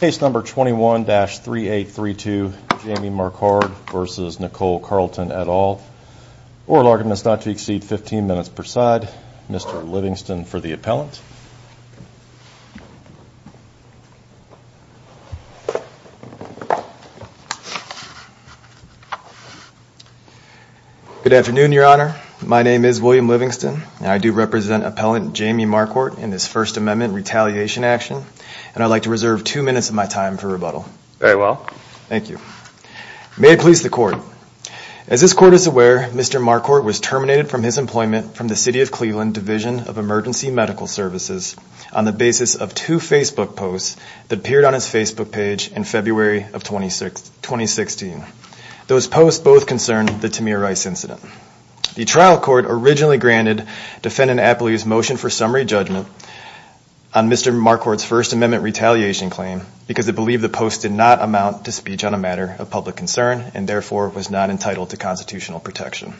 Case number 21-3832, Jamie Marquardt versus Nicole Carlton et al. Oral argument is not to exceed 15 minutes per side. Mr. Livingston for the appellant. Good afternoon, Your Honor. My name is William Livingston. I do represent appellant Jamie Marquardt in this First Amendment retaliation action. And I'd like to reserve two minutes of my time for rebuttal. Very well. Thank you. May it please the Court. As this Court is aware, Mr. Marquardt was terminated from his employment from the City of Cleveland Division of Emergency Medical Services on the basis of two Facebook posts that appeared on his Facebook page in February of 2016. Those posts both concern the Tamir Rice incident. The trial court originally granted defendant Apley's motion for summary judgment on Mr. Marquardt's First Amendment retaliation claim because it believed the post did not amount to speech on a matter of public concern and therefore was not entitled to constitutional protection.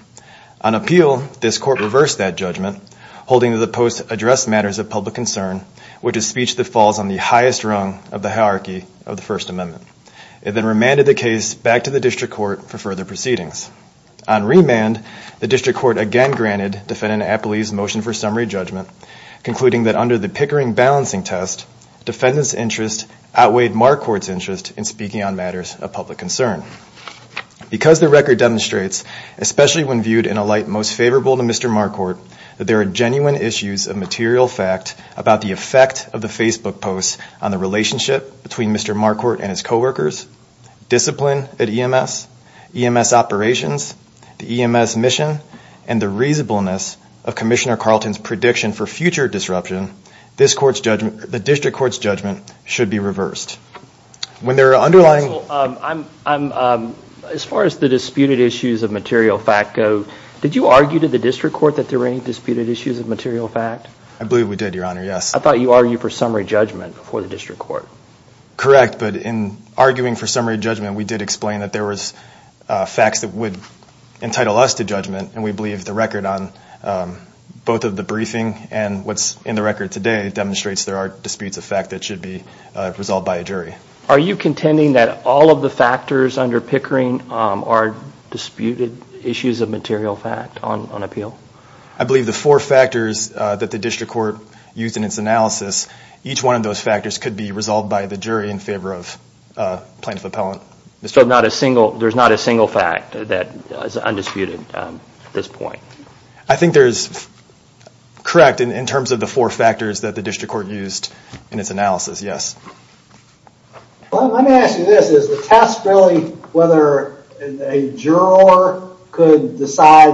On appeal, this Court reversed that judgment, holding that the post addressed matters of public concern, which is speech that falls on the highest rung of the hierarchy of the First Amendment. It then remanded the case back to the district court for further proceedings. On remand, the district court again granted defendant Apley's motion for summary judgment, concluding that under the Pickering balancing test, defendant's interest outweighed Marquardt's interest in speaking on matters of public concern. Because the record demonstrates, especially when viewed in a light most favorable to Mr. Marquardt, that there are genuine issues of material fact about the effect of the Facebook posts on the relationship between Mr. Marquardt and his coworkers, discipline at EMS, EMS operations, the EMS mission, and the reasonableness of Commissioner Carlton's prediction for future disruption, the district court's judgment should be reversed. When there are underlying... As far as the disputed issues of material fact go, did you argue to the district court that there were any disputed issues of material fact? I believe we did, Your Honor, yes. I thought you argued for summary judgment before the district court. Correct, but in arguing for summary judgment, we did explain that there was facts that would entitle us to judgment, and we believe the record on both of the briefing and what's in the record today demonstrates there are disputes of fact that should be resolved by a jury. Are you contending that all of the factors under Pickering are disputed issues of material fact on appeal? I believe the four factors that the district court used in its analysis, each one of those factors could be resolved by the jury in favor of plaintiff-appellant. So there's not a single fact that is undisputed at this point? I think there's... Correct, in terms of the four factors that the district court used in its analysis, yes. Let me ask you this. Is the test really whether a juror could decide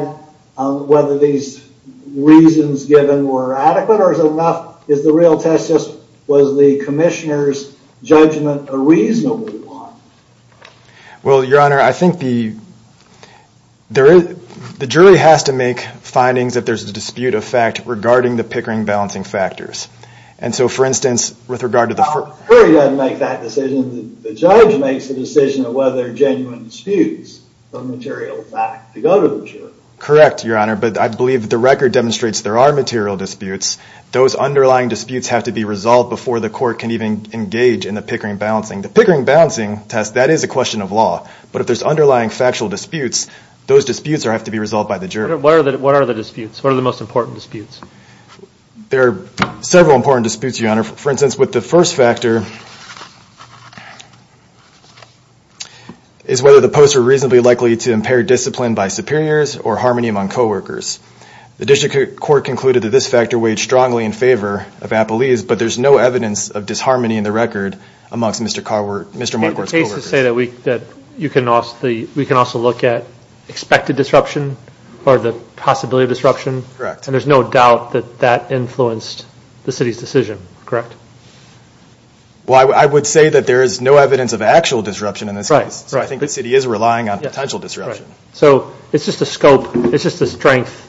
whether these reasons given were adequate, or is the real test just was the commissioner's judgment a reasonable one? Well, Your Honor, I think the jury has to make findings if there's a dispute of fact regarding the Pickering balancing factors. And so, for instance, with regard to the... The jury doesn't make that decision. The judge makes the decision of whether there are genuine disputes of material fact to go to the jury. Correct, Your Honor, but I believe the record demonstrates there are material disputes. Those underlying disputes have to be resolved before the court can even engage in the Pickering balancing. The Pickering balancing test, that is a question of law. But if there's underlying factual disputes, those disputes have to be resolved by the jury. What are the disputes? What are the most important disputes? There are several important disputes, Your Honor. For instance, with the first factor, is whether the posts are reasonably likely to impair discipline by superiors or harmony among co-workers. The district court concluded that this factor weighed strongly in favor of Appelee's, but there's no evidence of disharmony in the record amongst Mr. Marquardt's co-workers. It's safe to say that we can also look at expected disruption or the possibility of disruption. Correct. And there's no doubt that that influenced the city's decision, correct? Well, I would say that there is no evidence of actual disruption in this case. Right. So I think the city is relying on potential disruption. Right. So it's just the scope, it's just the strength.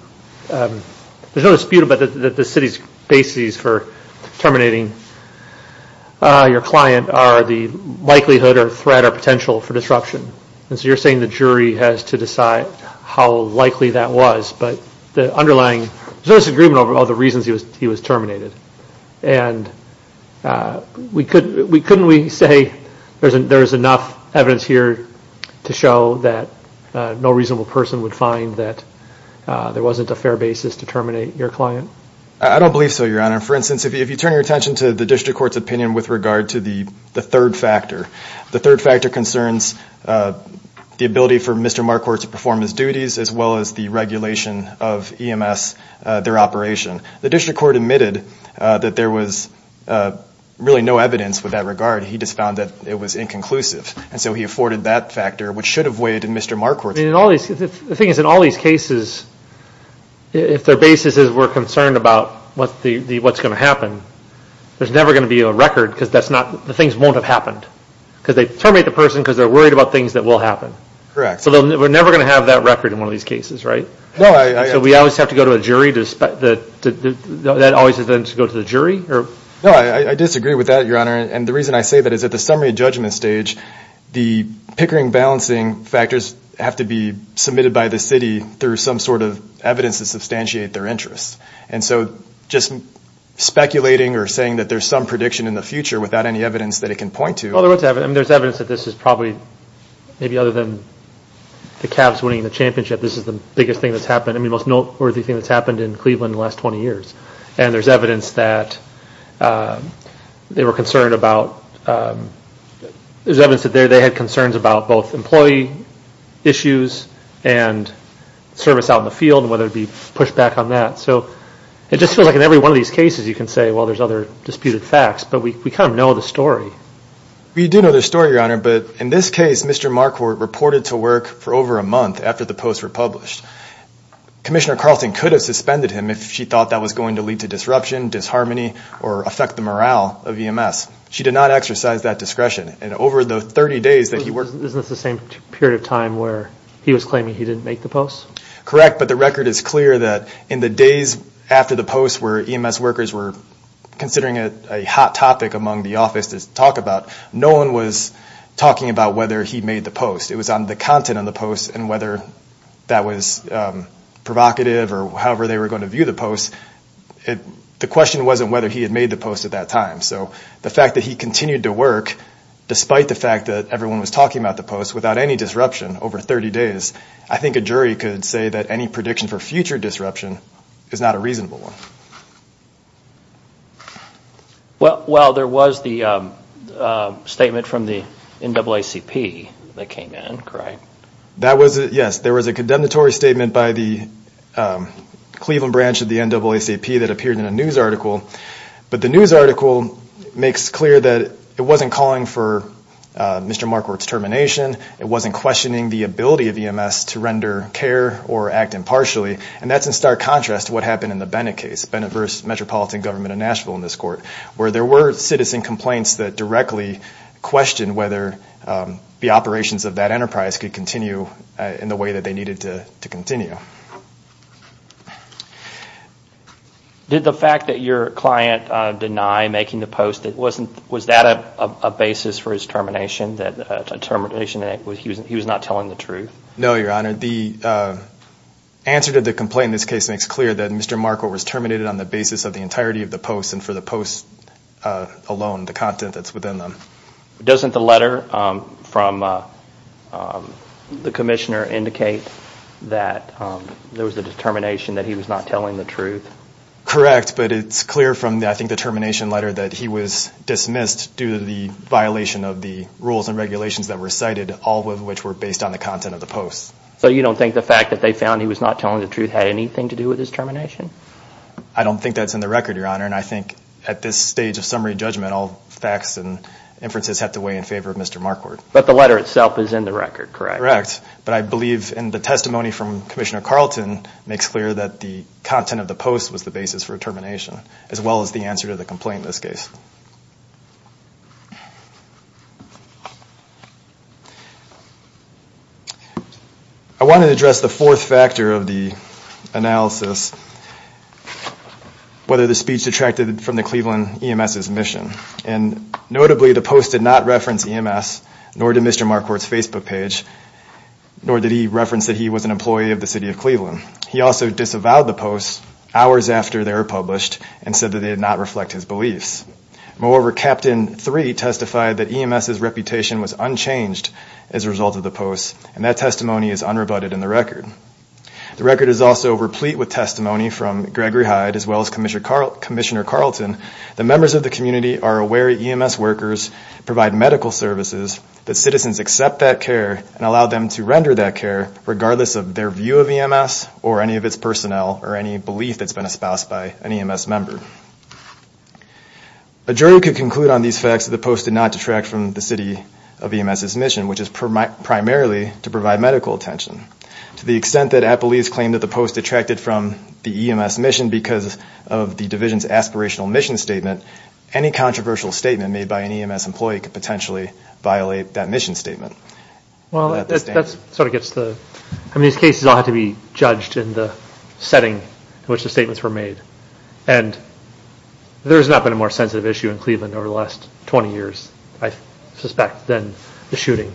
There's no dispute about the city's basis for terminating your client are the likelihood or threat or potential for disruption. And so you're saying the jury has to decide how likely that was, but the underlying, there's no disagreement over all the reasons he was terminated. And couldn't we say there's enough evidence here to show that no reasonable person would find that there wasn't a fair basis to terminate your client? I don't believe so, Your Honor. For instance, if you turn your attention to the district court's opinion with regard to the third factor, the third factor concerns the ability for Mr. Marquardt to perform his duties as well as the regulation of EMS, their operation. The district court admitted that there was really no evidence with that regard. He just found that it was inconclusive. And so he afforded that factor, which should have weighed to Mr. Marquardt. The thing is, in all these cases, if their basis is we're concerned about what's going to happen, there's never going to be a record because the things won't have happened. Because they terminate the person because they're worried about things that will happen. Correct. So we're never going to have that record in one of these cases, right? No. So we always have to go to a jury? That always is then to go to the jury? No, I disagree with that, Your Honor. And the reason I say that is at the summary judgment stage, the pickering balancing factors have to be submitted by the city through some sort of evidence to substantiate their interests. And so just speculating or saying that there's some prediction in the future without any evidence that it can point to. Well, there's evidence that this is probably maybe other than the Cavs winning the championship, this is the biggest thing that's happened, the most noteworthy thing that's happened in Cleveland in the last 20 years. And there's evidence that they were concerned about, there's evidence that they had concerns about both employee issues and service out in the field and whether there would be pushback on that. So it just feels like in every one of these cases you can say, well, there's other disputed facts, but we kind of know the story. We do know the story, Your Honor, but in this case Mr. Marquardt reported to work for over a month after the posts were published. Commissioner Carlson could have suspended him if she thought that was going to lead to disruption, disharmony, or affect the morale of EMS. She did not exercise that discretion. And over the 30 days that he worked. Isn't this the same period of time where he was claiming he didn't make the posts? Correct, but the record is clear that in the days after the posts where EMS workers were considering it a hot topic among the office to talk about, no one was talking about whether he made the posts. It was on the content of the posts and whether that was provocative or however they were going to view the posts. The question wasn't whether he had made the posts at that time. So the fact that he continued to work, despite the fact that everyone was talking about the posts, without any disruption over 30 days, I think a jury could say that any prediction for future disruption is not a reasonable one. Well, there was the statement from the NAACP that came in, correct? Yes, there was a condemnatory statement by the Cleveland branch of the NAACP that appeared in a news article. But the news article makes clear that it wasn't calling for Mr. Markworth's termination. It wasn't questioning the ability of EMS to render care or act impartially. And that's in stark contrast to what happened in the Bennett case. Bennett v. Metropolitan Government of Nashville in this court, where there were citizen complaints that directly questioned whether the operations of that enterprise could continue in the way that they needed to continue. Did the fact that your client denied making the posts, was that a basis for his termination, that he was not telling the truth? No, Your Honor. The answer to the complaint in this case makes clear that Mr. Markworth was terminated on the basis of the entirety of the posts and for the posts alone, the content that's within them. Doesn't the letter from the commissioner indicate that there was a determination that he was not telling the truth? Correct, but it's clear from, I think, the termination letter that he was dismissed due to the violation of the rules and regulations that were cited, all of which were based on the content of the posts. So you don't think the fact that they found he was not telling the truth had anything to do with his termination? I don't think that's in the record, Your Honor, and I think at this stage of summary judgment, all facts and inferences have to weigh in favor of Mr. Markworth. But the letter itself is in the record, correct? Correct, but I believe in the testimony from Commissioner Carlton, makes clear that the content of the posts was the basis for termination, as well as the answer to the complaint in this case. I want to address the fourth factor of the analysis, whether the speech detracted from the Cleveland EMS's mission. And notably, the post did not reference EMS, nor did Mr. Markworth's Facebook page, nor did he reference that he was an employee of the city of Cleveland. He also disavowed the posts hours after they were published and said that they did not reflect his beliefs. Moreover, Captain Three testified that EMS's reputation was unchanged as a result of the posts, and that testimony is unrebutted in the record. The record is also replete with testimony from Gregory Hyde, as well as Commissioner Carlton, that members of the community are aware EMS workers provide medical services, that citizens accept that care and allow them to render that care regardless of their view of EMS or any of its personnel or any belief that's been espoused by an EMS member. A jury could conclude on these facts that the post did not detract from the city of EMS's mission, which is primarily to provide medical attention. To the extent that Appleese claimed that the post detracted from the EMS mission because of the division's aspirational mission statement, any controversial statement made by an EMS employee could potentially violate that mission statement. Well, that sort of gets the – I mean, these cases all have to be judged in the setting in which the statements were made. And there has not been a more sensitive issue in Cleveland over the last 20 years, I suspect, than the shooting.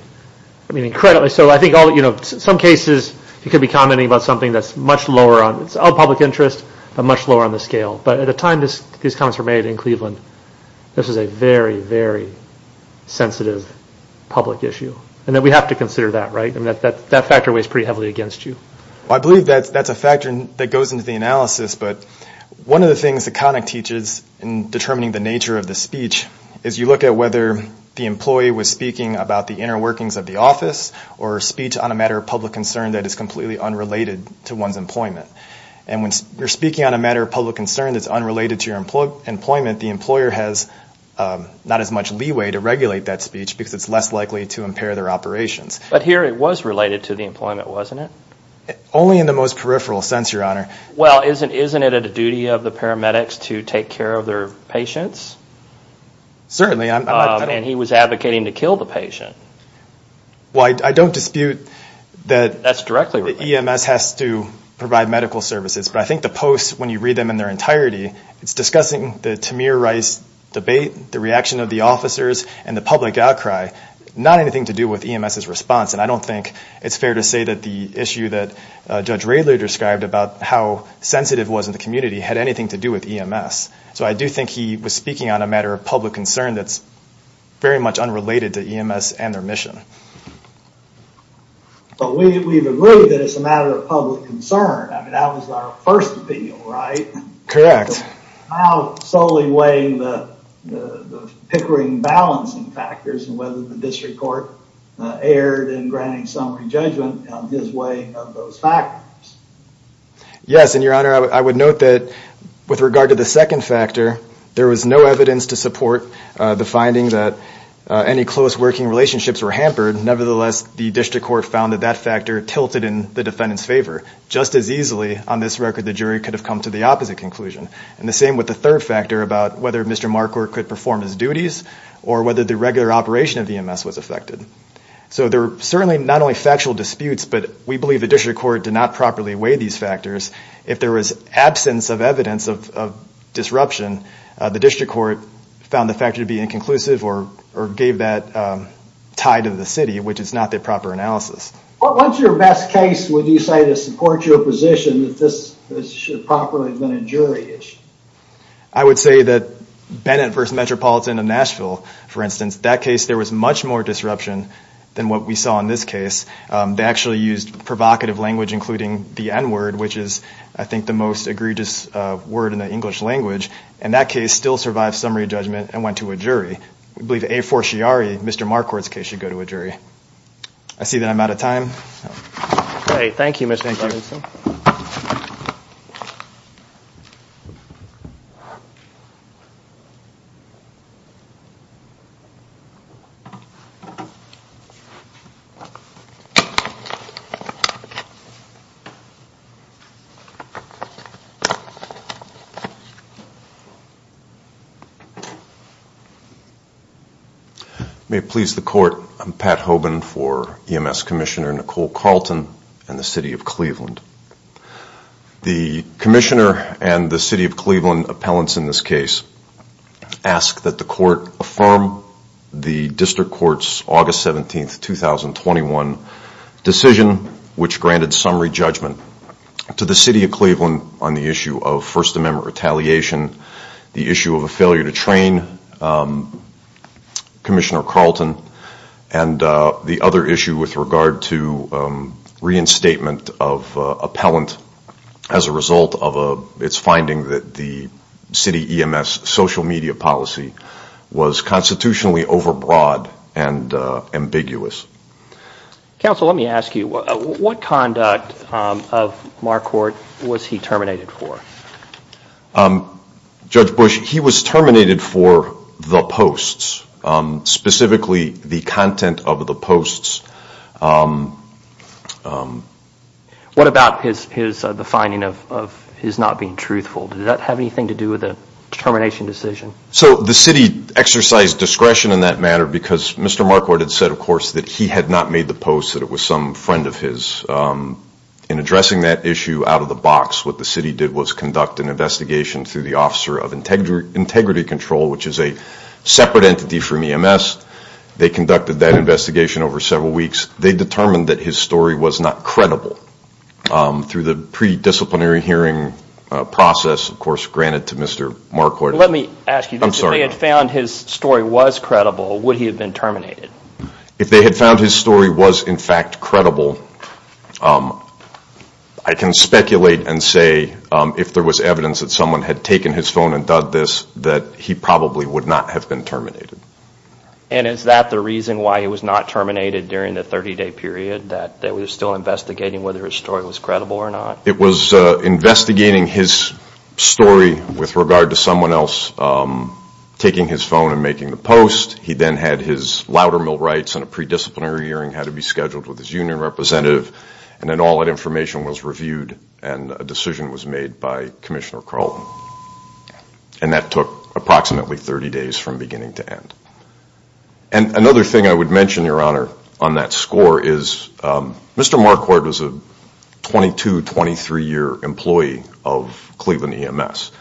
I mean, incredibly – so I think all – you know, some cases you could be commenting about something that's much lower on – it's of public interest, but much lower on the scale. But at a time these comments were made in Cleveland, this was a very, very sensitive public issue. And we have to consider that, right? I mean, that factor weighs pretty heavily against you. Well, I believe that's a factor that goes into the analysis, but one of the things that Connick teaches in determining the nature of the speech is you look at whether the employee was speaking about the inner workings of the office or a speech on a matter of public concern that is completely unrelated to one's employment. And when you're speaking on a matter of public concern that's unrelated to your employment, the employer has not as much leeway to regulate that speech because it's less likely to impair their operations. But here it was related to the employment, wasn't it? Only in the most peripheral sense, Your Honor. Well, isn't it a duty of the paramedics to take care of their patients? Certainly. And he was advocating to kill the patient. Well, I don't dispute that – That's directly related. Not that EMS has to provide medical services, but I think the post, when you read them in their entirety, it's discussing the Tamir Rice debate, the reaction of the officers, and the public outcry, not anything to do with EMS's response. And I don't think it's fair to say that the issue that Judge Radler described about how sensitive it was in the community had anything to do with EMS. So I do think he was speaking on a matter of public concern that's very much unrelated to EMS and their mission. But we've agreed that it's a matter of public concern. I mean, that was our first opinion, right? Correct. How solely weighing the Pickering balancing factors and whether the district court erred in granting summary judgment on his weighing of those factors. Yes, and, Your Honor, I would note that with regard to the second factor, there was no evidence to support the finding that any close working relationships were hampered. Nevertheless, the district court found that that factor tilted in the defendant's favor. Just as easily, on this record, the jury could have come to the opposite conclusion. And the same with the third factor about whether Mr. Marquardt could perform his duties or whether the regular operation of EMS was affected. So there were certainly not only factual disputes, but we believe the district court did not properly weigh these factors. If there was absence of evidence of disruption, the district court found the factor to be inconclusive or gave that tie to the city, which is not the proper analysis. What's your best case would you say to support your position that this should have properly been a jury issue? I would say that Bennett v. Metropolitan of Nashville, for instance, that case there was much more disruption than what we saw in this case. They actually used provocative language, including the N word, which is I think the most egregious word in the English language. And that case still survived summary judgment and went to a jury. We believe A for Sciari, Mr. Marquardt's case should go to a jury. I see that I'm out of time. Thank you, Mr. Edson. May it please the court, I'm Pat Hoban for EMS Commissioner Nicole Carlton and the City of Cleveland. The commissioner and the City of Cleveland appellants in this case ask that the court affirm the district court's August 17, 2021 decision, which granted summary judgment to the City of Cleveland on the issue of First Amendment retaliation, the issue of a failure to train Commissioner Carlton, and the other issue with regard to reinstatement of appellant as a result of its finding that the City EMS social media policy was constitutionally overbroad and ambiguous. Counsel, let me ask you, what conduct of Marquardt was he terminated for? Judge Bush, he was terminated for the posts, specifically the content of the posts. What about the finding of his not being truthful? Did that have anything to do with the termination decision? So the city exercised discretion in that matter because Mr. Marquardt had said, of course, that he had not made the post that it was some friend of his. In addressing that issue out of the box, what the city did was conduct an investigation through the Officer of Integrity Control, which is a separate entity from EMS. They conducted that investigation over several weeks. They determined that his story was not credible through the pre-disciplinary hearing process, of course, granted to Mr. Marquardt. Let me ask you, if they had found his story was credible, would he have been terminated? If they had found his story was, in fact, credible, I can speculate and say if there was evidence that someone had taken his phone and done this, that he probably would not have been terminated. And is that the reason why he was not terminated during the 30-day period, that they were still investigating whether his story was credible or not? It was investigating his story with regard to someone else taking his phone and making the post. He then had his Loudermill rights, and a pre-disciplinary hearing had to be scheduled with his union representative. And then all that information was reviewed, and a decision was made by Commissioner Carlton. And that took approximately 30 days from beginning to end. And another thing I would mention, Your Honor, on that score, is Mr. Marquardt was a 22, 23-year employee of Cleveland EMS.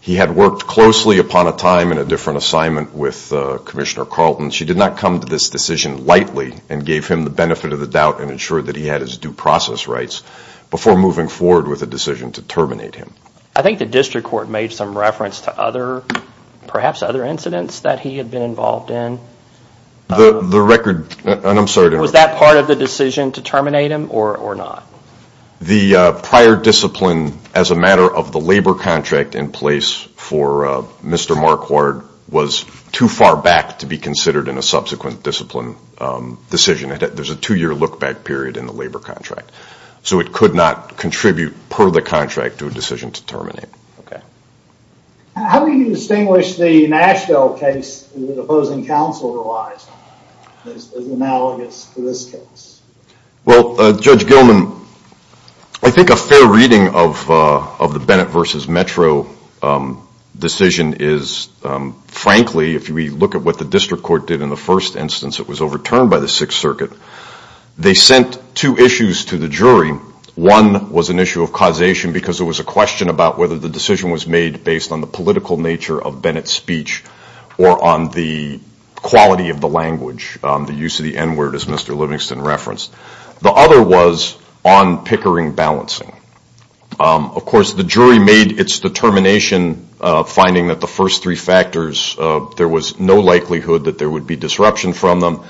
He had worked closely upon a time in a different assignment with Commissioner Carlton. She did not come to this decision lightly, and gave him the benefit of the doubt and ensured that he had his due process rights before moving forward with a decision to terminate him. I think the district court made some reference to perhaps other incidents that he had been involved in. The record, and I'm sorry to interrupt. Was that part of the decision to terminate him or not? The prior discipline as a matter of the labor contract in place for Mr. Marquardt was too far back to be considered in a subsequent discipline decision. There's a two-year look-back period in the labor contract. So it could not contribute per the contract to a decision to terminate. Okay. How do you distinguish the Nashville case that the opposing counsel realized as analogous to this case? Well, Judge Gilman, I think a fair reading of the Bennett v. Metro decision is, frankly, if we look at what the district court did in the first instance, it was overturned by the Sixth Circuit. They sent two issues to the jury. One was an issue of causation because it was a question about whether the decision was made based on the political nature of Bennett's speech or on the quality of the language, the use of the N-word, as Mr. Livingston referenced. The other was on Pickering balancing. Of course, the jury made its determination finding that the first three factors, there was no likelihood that there would be disruption from them.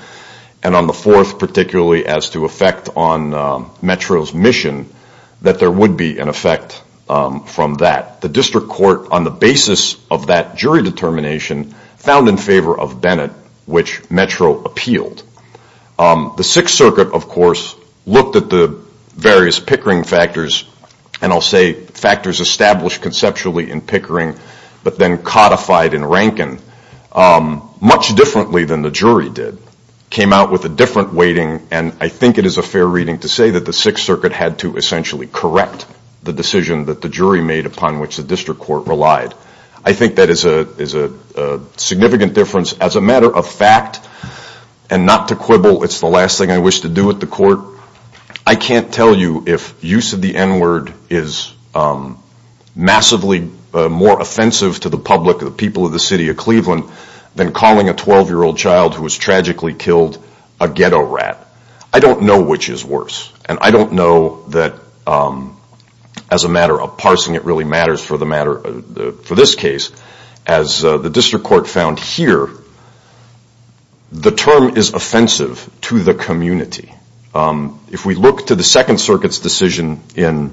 And on the fourth, particularly as to effect on Metro's mission, that there would be an effect from that. The district court, on the basis of that jury determination, found in favor of Bennett, which Metro appealed. The Sixth Circuit, of course, looked at the various Pickering factors, and I'll say factors established conceptually in Pickering but then codified in Rankin, much differently than the jury did, came out with a different weighting, and I think it is a fair reading to say that the Sixth Circuit had to essentially correct the decision that the jury made upon which the district court relied. I think that is a significant difference. As a matter of fact, and not to quibble, it's the last thing I wish to do at the court, I can't tell you if use of the N-word is massively more offensive to the public, the people of the city of Cleveland, than calling a 12-year-old child who was tragically killed a ghetto rat. I don't know which is worse, and I don't know that as a matter of parsing, it really matters for this case. As the district court found here, the term is offensive to the community. If we look to the Second Circuit's decision in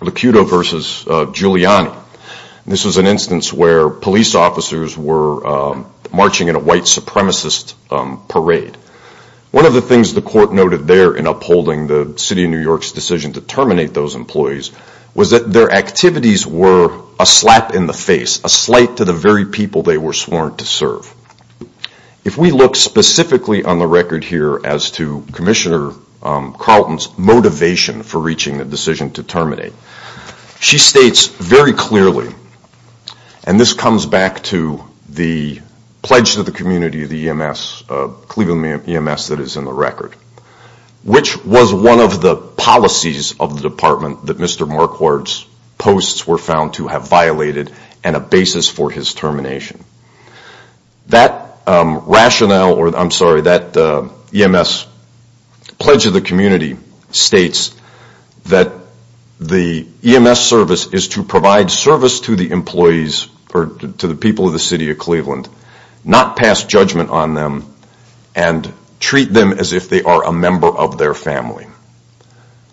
Locuto v. Giuliani, this was an instance where police officers were marching in a white supremacist parade. One of the things the court noted there in upholding the city of New York's decision to terminate those employees was that their activities were a slap in the face, a slight to the very people they were sworn to serve. If we look specifically on the record here as to Commissioner Carlton's motivation for reaching the decision to terminate, she states very clearly, and this comes back to the pledge to the community of the Cleveland EMS that is in the record, which was one of the policies of the department that Mr. Marquardt's posts were found to have violated and a basis for his termination. That EMS pledge of the community states that the EMS service is to provide service to the employees, or to the people of the city of Cleveland, not pass judgment on them and treat them as if they are a member of their family.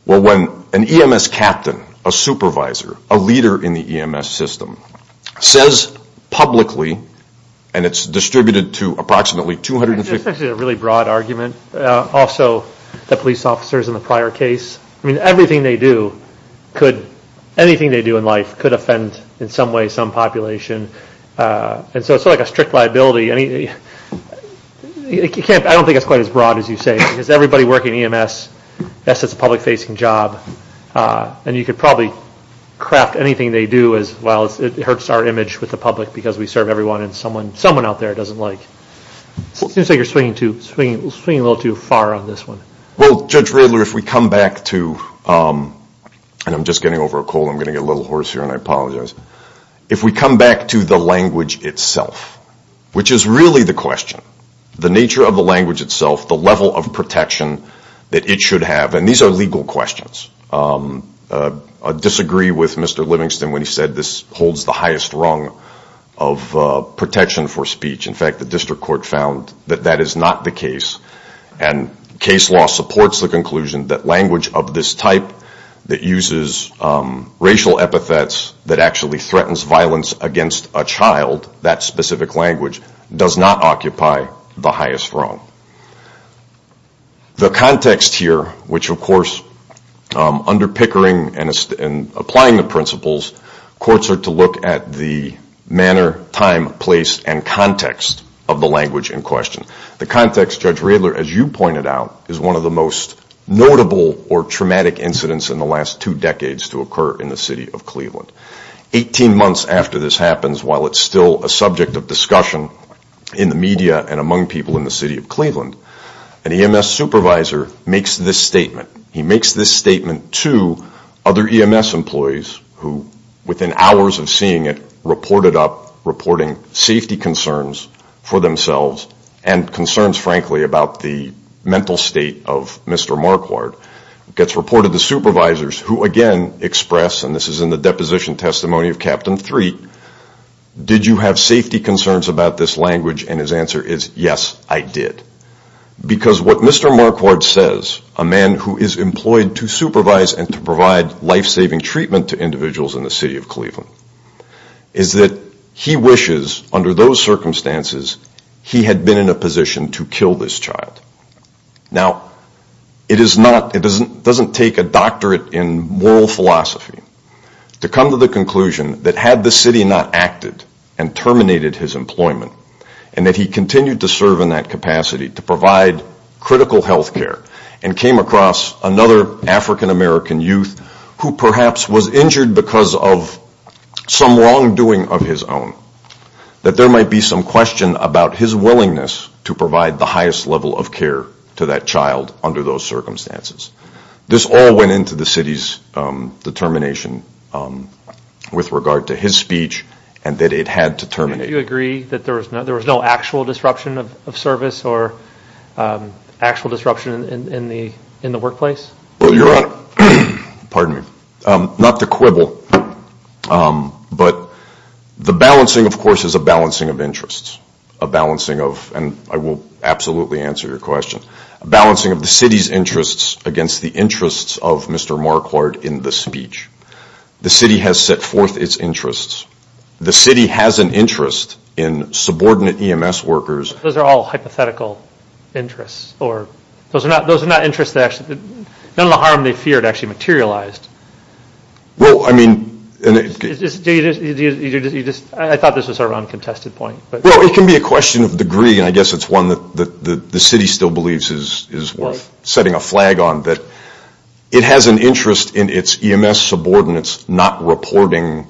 Well, when an EMS captain, a supervisor, a leader in the EMS system says publicly, and it's distributed to approximately 250... It's actually a really broad argument. Also, the police officers in the prior case, I mean, everything they do could, anything they do in life could offend in some way some population. And so it's like a strict liability. I don't think it's quite as broad as you say because everybody working EMS, yes, it's a public-facing job, and you could probably craft anything they do as, well, it hurts our image with the public because we serve everyone and someone out there doesn't like. It seems like you're swinging a little too far on this one. Well, Judge Riddler, if we come back to... And I'm just getting over a cold. I'm going to get a little hoarse here, and I apologize. If we come back to the language itself, which is really the question, the nature of the language itself, the level of protection that it should have, and these are legal questions. I disagree with Mr. Livingston when he said this holds the highest rung of protection for speech. In fact, the district court found that that is not the case, and case law supports the conclusion that language of this type that uses racial epithets that actually threatens violence against a child, that specific language, does not occupy the highest rung. The context here, which, of course, under Pickering and applying the principles, courts are to look at the manner, time, place, and context of the language in question. The context, Judge Riddler, as you pointed out, is one of the most notable or traumatic incidents in the last two decades to occur in the city of Cleveland. Eighteen months after this happens, while it's still a subject of discussion in the media and among people in the city of Cleveland, an EMS supervisor makes this statement. He makes this statement to other EMS employees who, within hours of seeing it, reported up reporting safety concerns for themselves and concerns, frankly, about the mental state of Mr. Marquardt. It gets reported to supervisors who, again, express, and this is in the deposition testimony of Captain Threak, did you have safety concerns about this language, and his answer is, yes, I did. Because what Mr. Marquardt says, a man who is employed to supervise and to provide life-saving treatment to individuals in the city of Cleveland, is that he wishes, under those circumstances, he had been in a position to kill this child. Now, it doesn't take a doctorate in moral philosophy to come to the conclusion that had the city not acted and terminated his employment, and that he continued to serve in that capacity to provide critical health care, and came across another African-American youth who, perhaps, was injured because of some wrongdoing of his own, that there might be some question about his willingness to provide the highest level of care to that child under those circumstances. This all went into the city's determination with regard to his speech, and that it had to terminate. Do you agree that there was no actual disruption of service or actual disruption in the workplace? Your Honor, pardon me, not to quibble, but the balancing, of course, is a balancing of interests, a balancing of, and I will absolutely answer your question, a balancing of the city's interests against the interests of Mr. Marquardt in the speech. The city has set forth its interests. The city has an interest in subordinate EMS workers. Those are all hypothetical interests, or those are not interests that actually, none of the harm they feared actually materialized. Well, I mean. I thought this was sort of a contested point. Well, it can be a question of degree, and I guess it's one that the city still believes is worth setting a flag on, that it has an interest in its EMS subordinates not reporting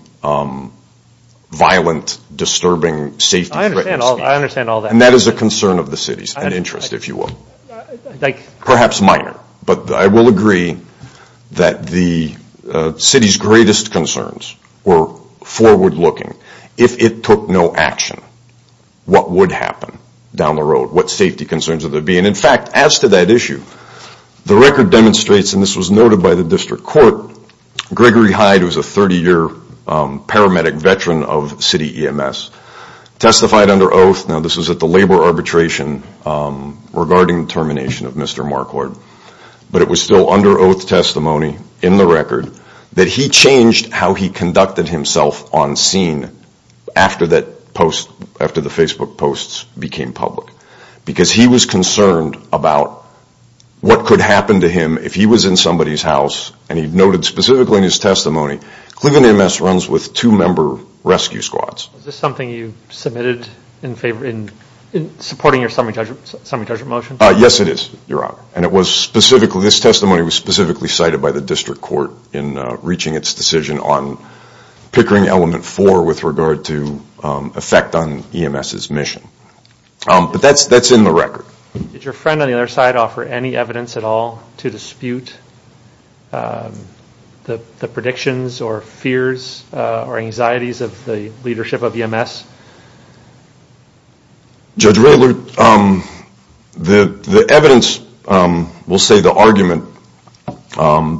violent, disturbing, safety-threatening speech. I understand all that. And that is a concern of the city's, an interest, if you will, perhaps minor. But I will agree that the city's greatest concerns were forward-looking. If it took no action, what would happen down the road? What safety concerns would there be? And, in fact, as to that issue, the record demonstrates, and this was noted by the district court, Gregory Hyde, who is a 30-year paramedic veteran of city EMS, testified under oath, now this was at the labor arbitration regarding termination of Mr. Marquardt, but it was still under oath testimony in the record, that he changed how he conducted himself on scene after the Facebook posts became public. Because he was concerned about what could happen to him if he was in somebody's house, and he noted specifically in his testimony, Cleveland EMS runs with two-member rescue squads. Is this something you submitted in favor, in supporting your summary judgment motion? Yes, it is, Your Honor. And it was specifically, this testimony was specifically cited by the district court in reaching its decision on Pickering Element 4 with regard to effect on EMS's mission. But that's in the record. Did your friend on the other side offer any evidence at all to dispute the predictions or fears or anxieties of the leadership of EMS? Judge Raylard, the evidence, we'll say the argument,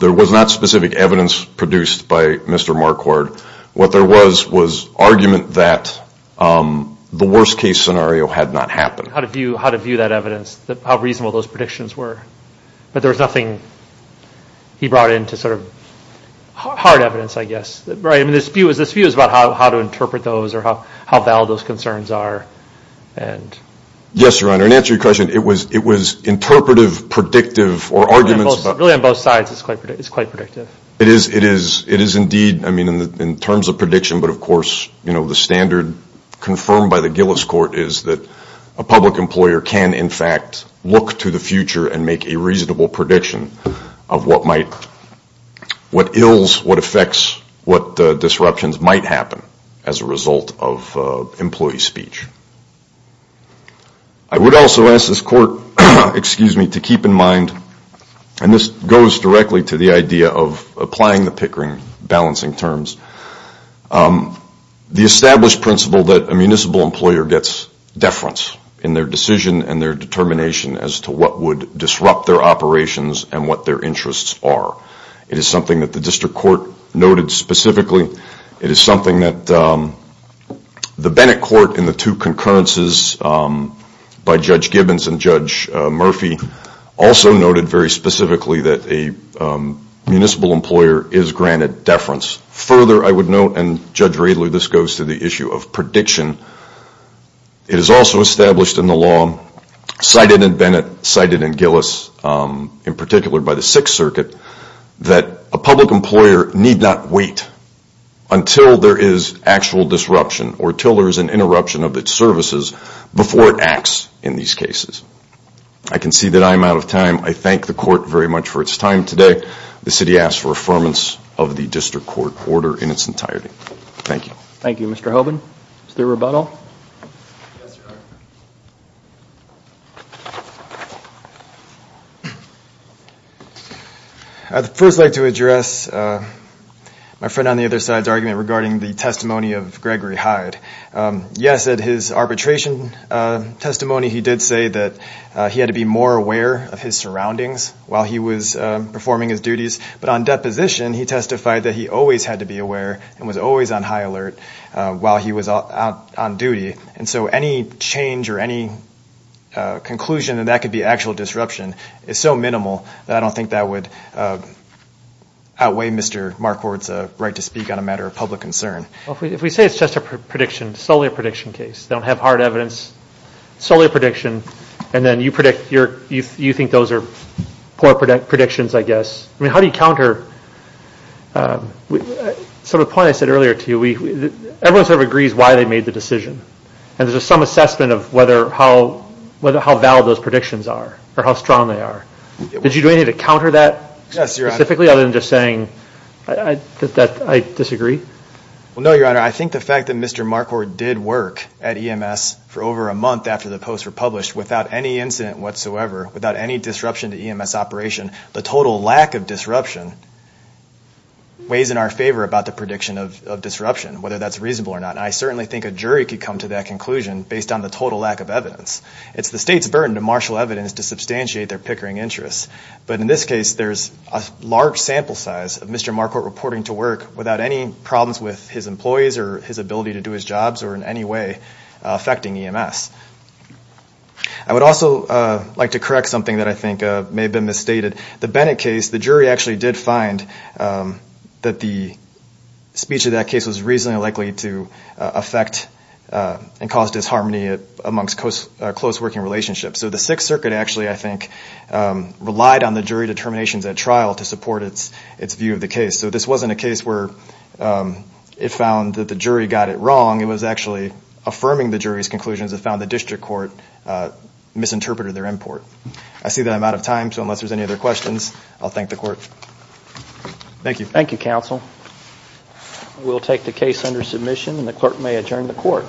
there was not specific evidence produced by Mr. Marquardt. What there was was argument that the worst-case scenario had not happened. How to view that evidence, how reasonable those predictions were. But there was nothing he brought in to sort of hard evidence, I guess. This view is about how to interpret those or how valid those concerns are. Yes, Your Honor. In answer to your question, it was interpretive, predictive, or arguments. Really on both sides, it's quite predictive. It is indeed. I mean, in terms of prediction, but of course, you know, the standard confirmed by the Gillis Court is that a public employer can, in fact, look to the future and make a reasonable prediction of what might, what ills, what effects, what disruptions might happen as a result of employee speech. I would also ask this Court, excuse me, to keep in mind, and this goes directly to the idea of applying the Pickering balancing terms, the established principle that a municipal employer gets deference in their decision and their determination as to what would disrupt their operations and what their interests are. It is something that the District Court noted specifically. It is something that the Bennett Court in the two concurrences by Judge Gibbons and Judge Murphy also noted very specifically that a municipal employer is granted deference. Further, I would note, and Judge Radler, this goes to the issue of prediction, it is also established in the law, cited in Bennett, cited in Gillis, in particular by the Sixth Circuit, that a public employer need not wait until there is actual disruption or until there is an interruption of its services before it acts in these cases. I can see that I am out of time. I thank the Court very much for its time today. The City asks for affirmance of the District Court order in its entirety. Thank you. Thank you, Mr. Hoban. Mr. Rubato. Yes, Your Honor. I would first like to address my friend on the other side's argument regarding the testimony of Gregory Hyde. Yes, at his arbitration testimony he did say that he had to be more aware of his surroundings while he was performing his duties, but on deposition, he testified that he always had to be aware and was always on high alert while he was on duty. And so any change or any conclusion that that could be actual disruption is so minimal that I don't think that would outweigh Mr. Marquardt's right to speak on a matter of public concern. If we say it's just a prediction, solely a prediction case, they don't have hard evidence, solely a prediction, and then you predict you think those are poor predictions, I guess, I mean, how do you counter? So the point I said earlier to you, everyone sort of agrees why they made the decision, and there's some assessment of how valid those predictions are or how strong they are. Did you do anything to counter that specifically other than just saying that I disagree? Well, no, Your Honor. I think the fact that Mr. Marquardt did work at EMS for over a month after the posts were published without any incident whatsoever, without any disruption to EMS operation, the total lack of disruption weighs in our favor about the prediction of disruption, whether that's reasonable or not. And I certainly think a jury could come to that conclusion based on the total lack of evidence. It's the state's burden to marshal evidence to substantiate their pickering interests. But in this case, there's a large sample size of Mr. Marquardt reporting to work without any problems with his employees or his ability to do his jobs or in any way affecting EMS. I would also like to correct something that I think may have been misstated. The Bennett case, the jury actually did find that the speech of that case was reasonably likely to affect and cause disharmony amongst close working relationships. So the Sixth Circuit actually, I think, relied on the jury determinations at trial to support its view of the case. So this wasn't a case where it found that the jury got it wrong. It was actually affirming the jury's conclusions that found the district court misinterpreted their import. I see that I'm out of time. So unless there's any other questions, I'll thank the court. Thank you. Thank you, counsel. We'll take the case under submission and the clerk may adjourn the court.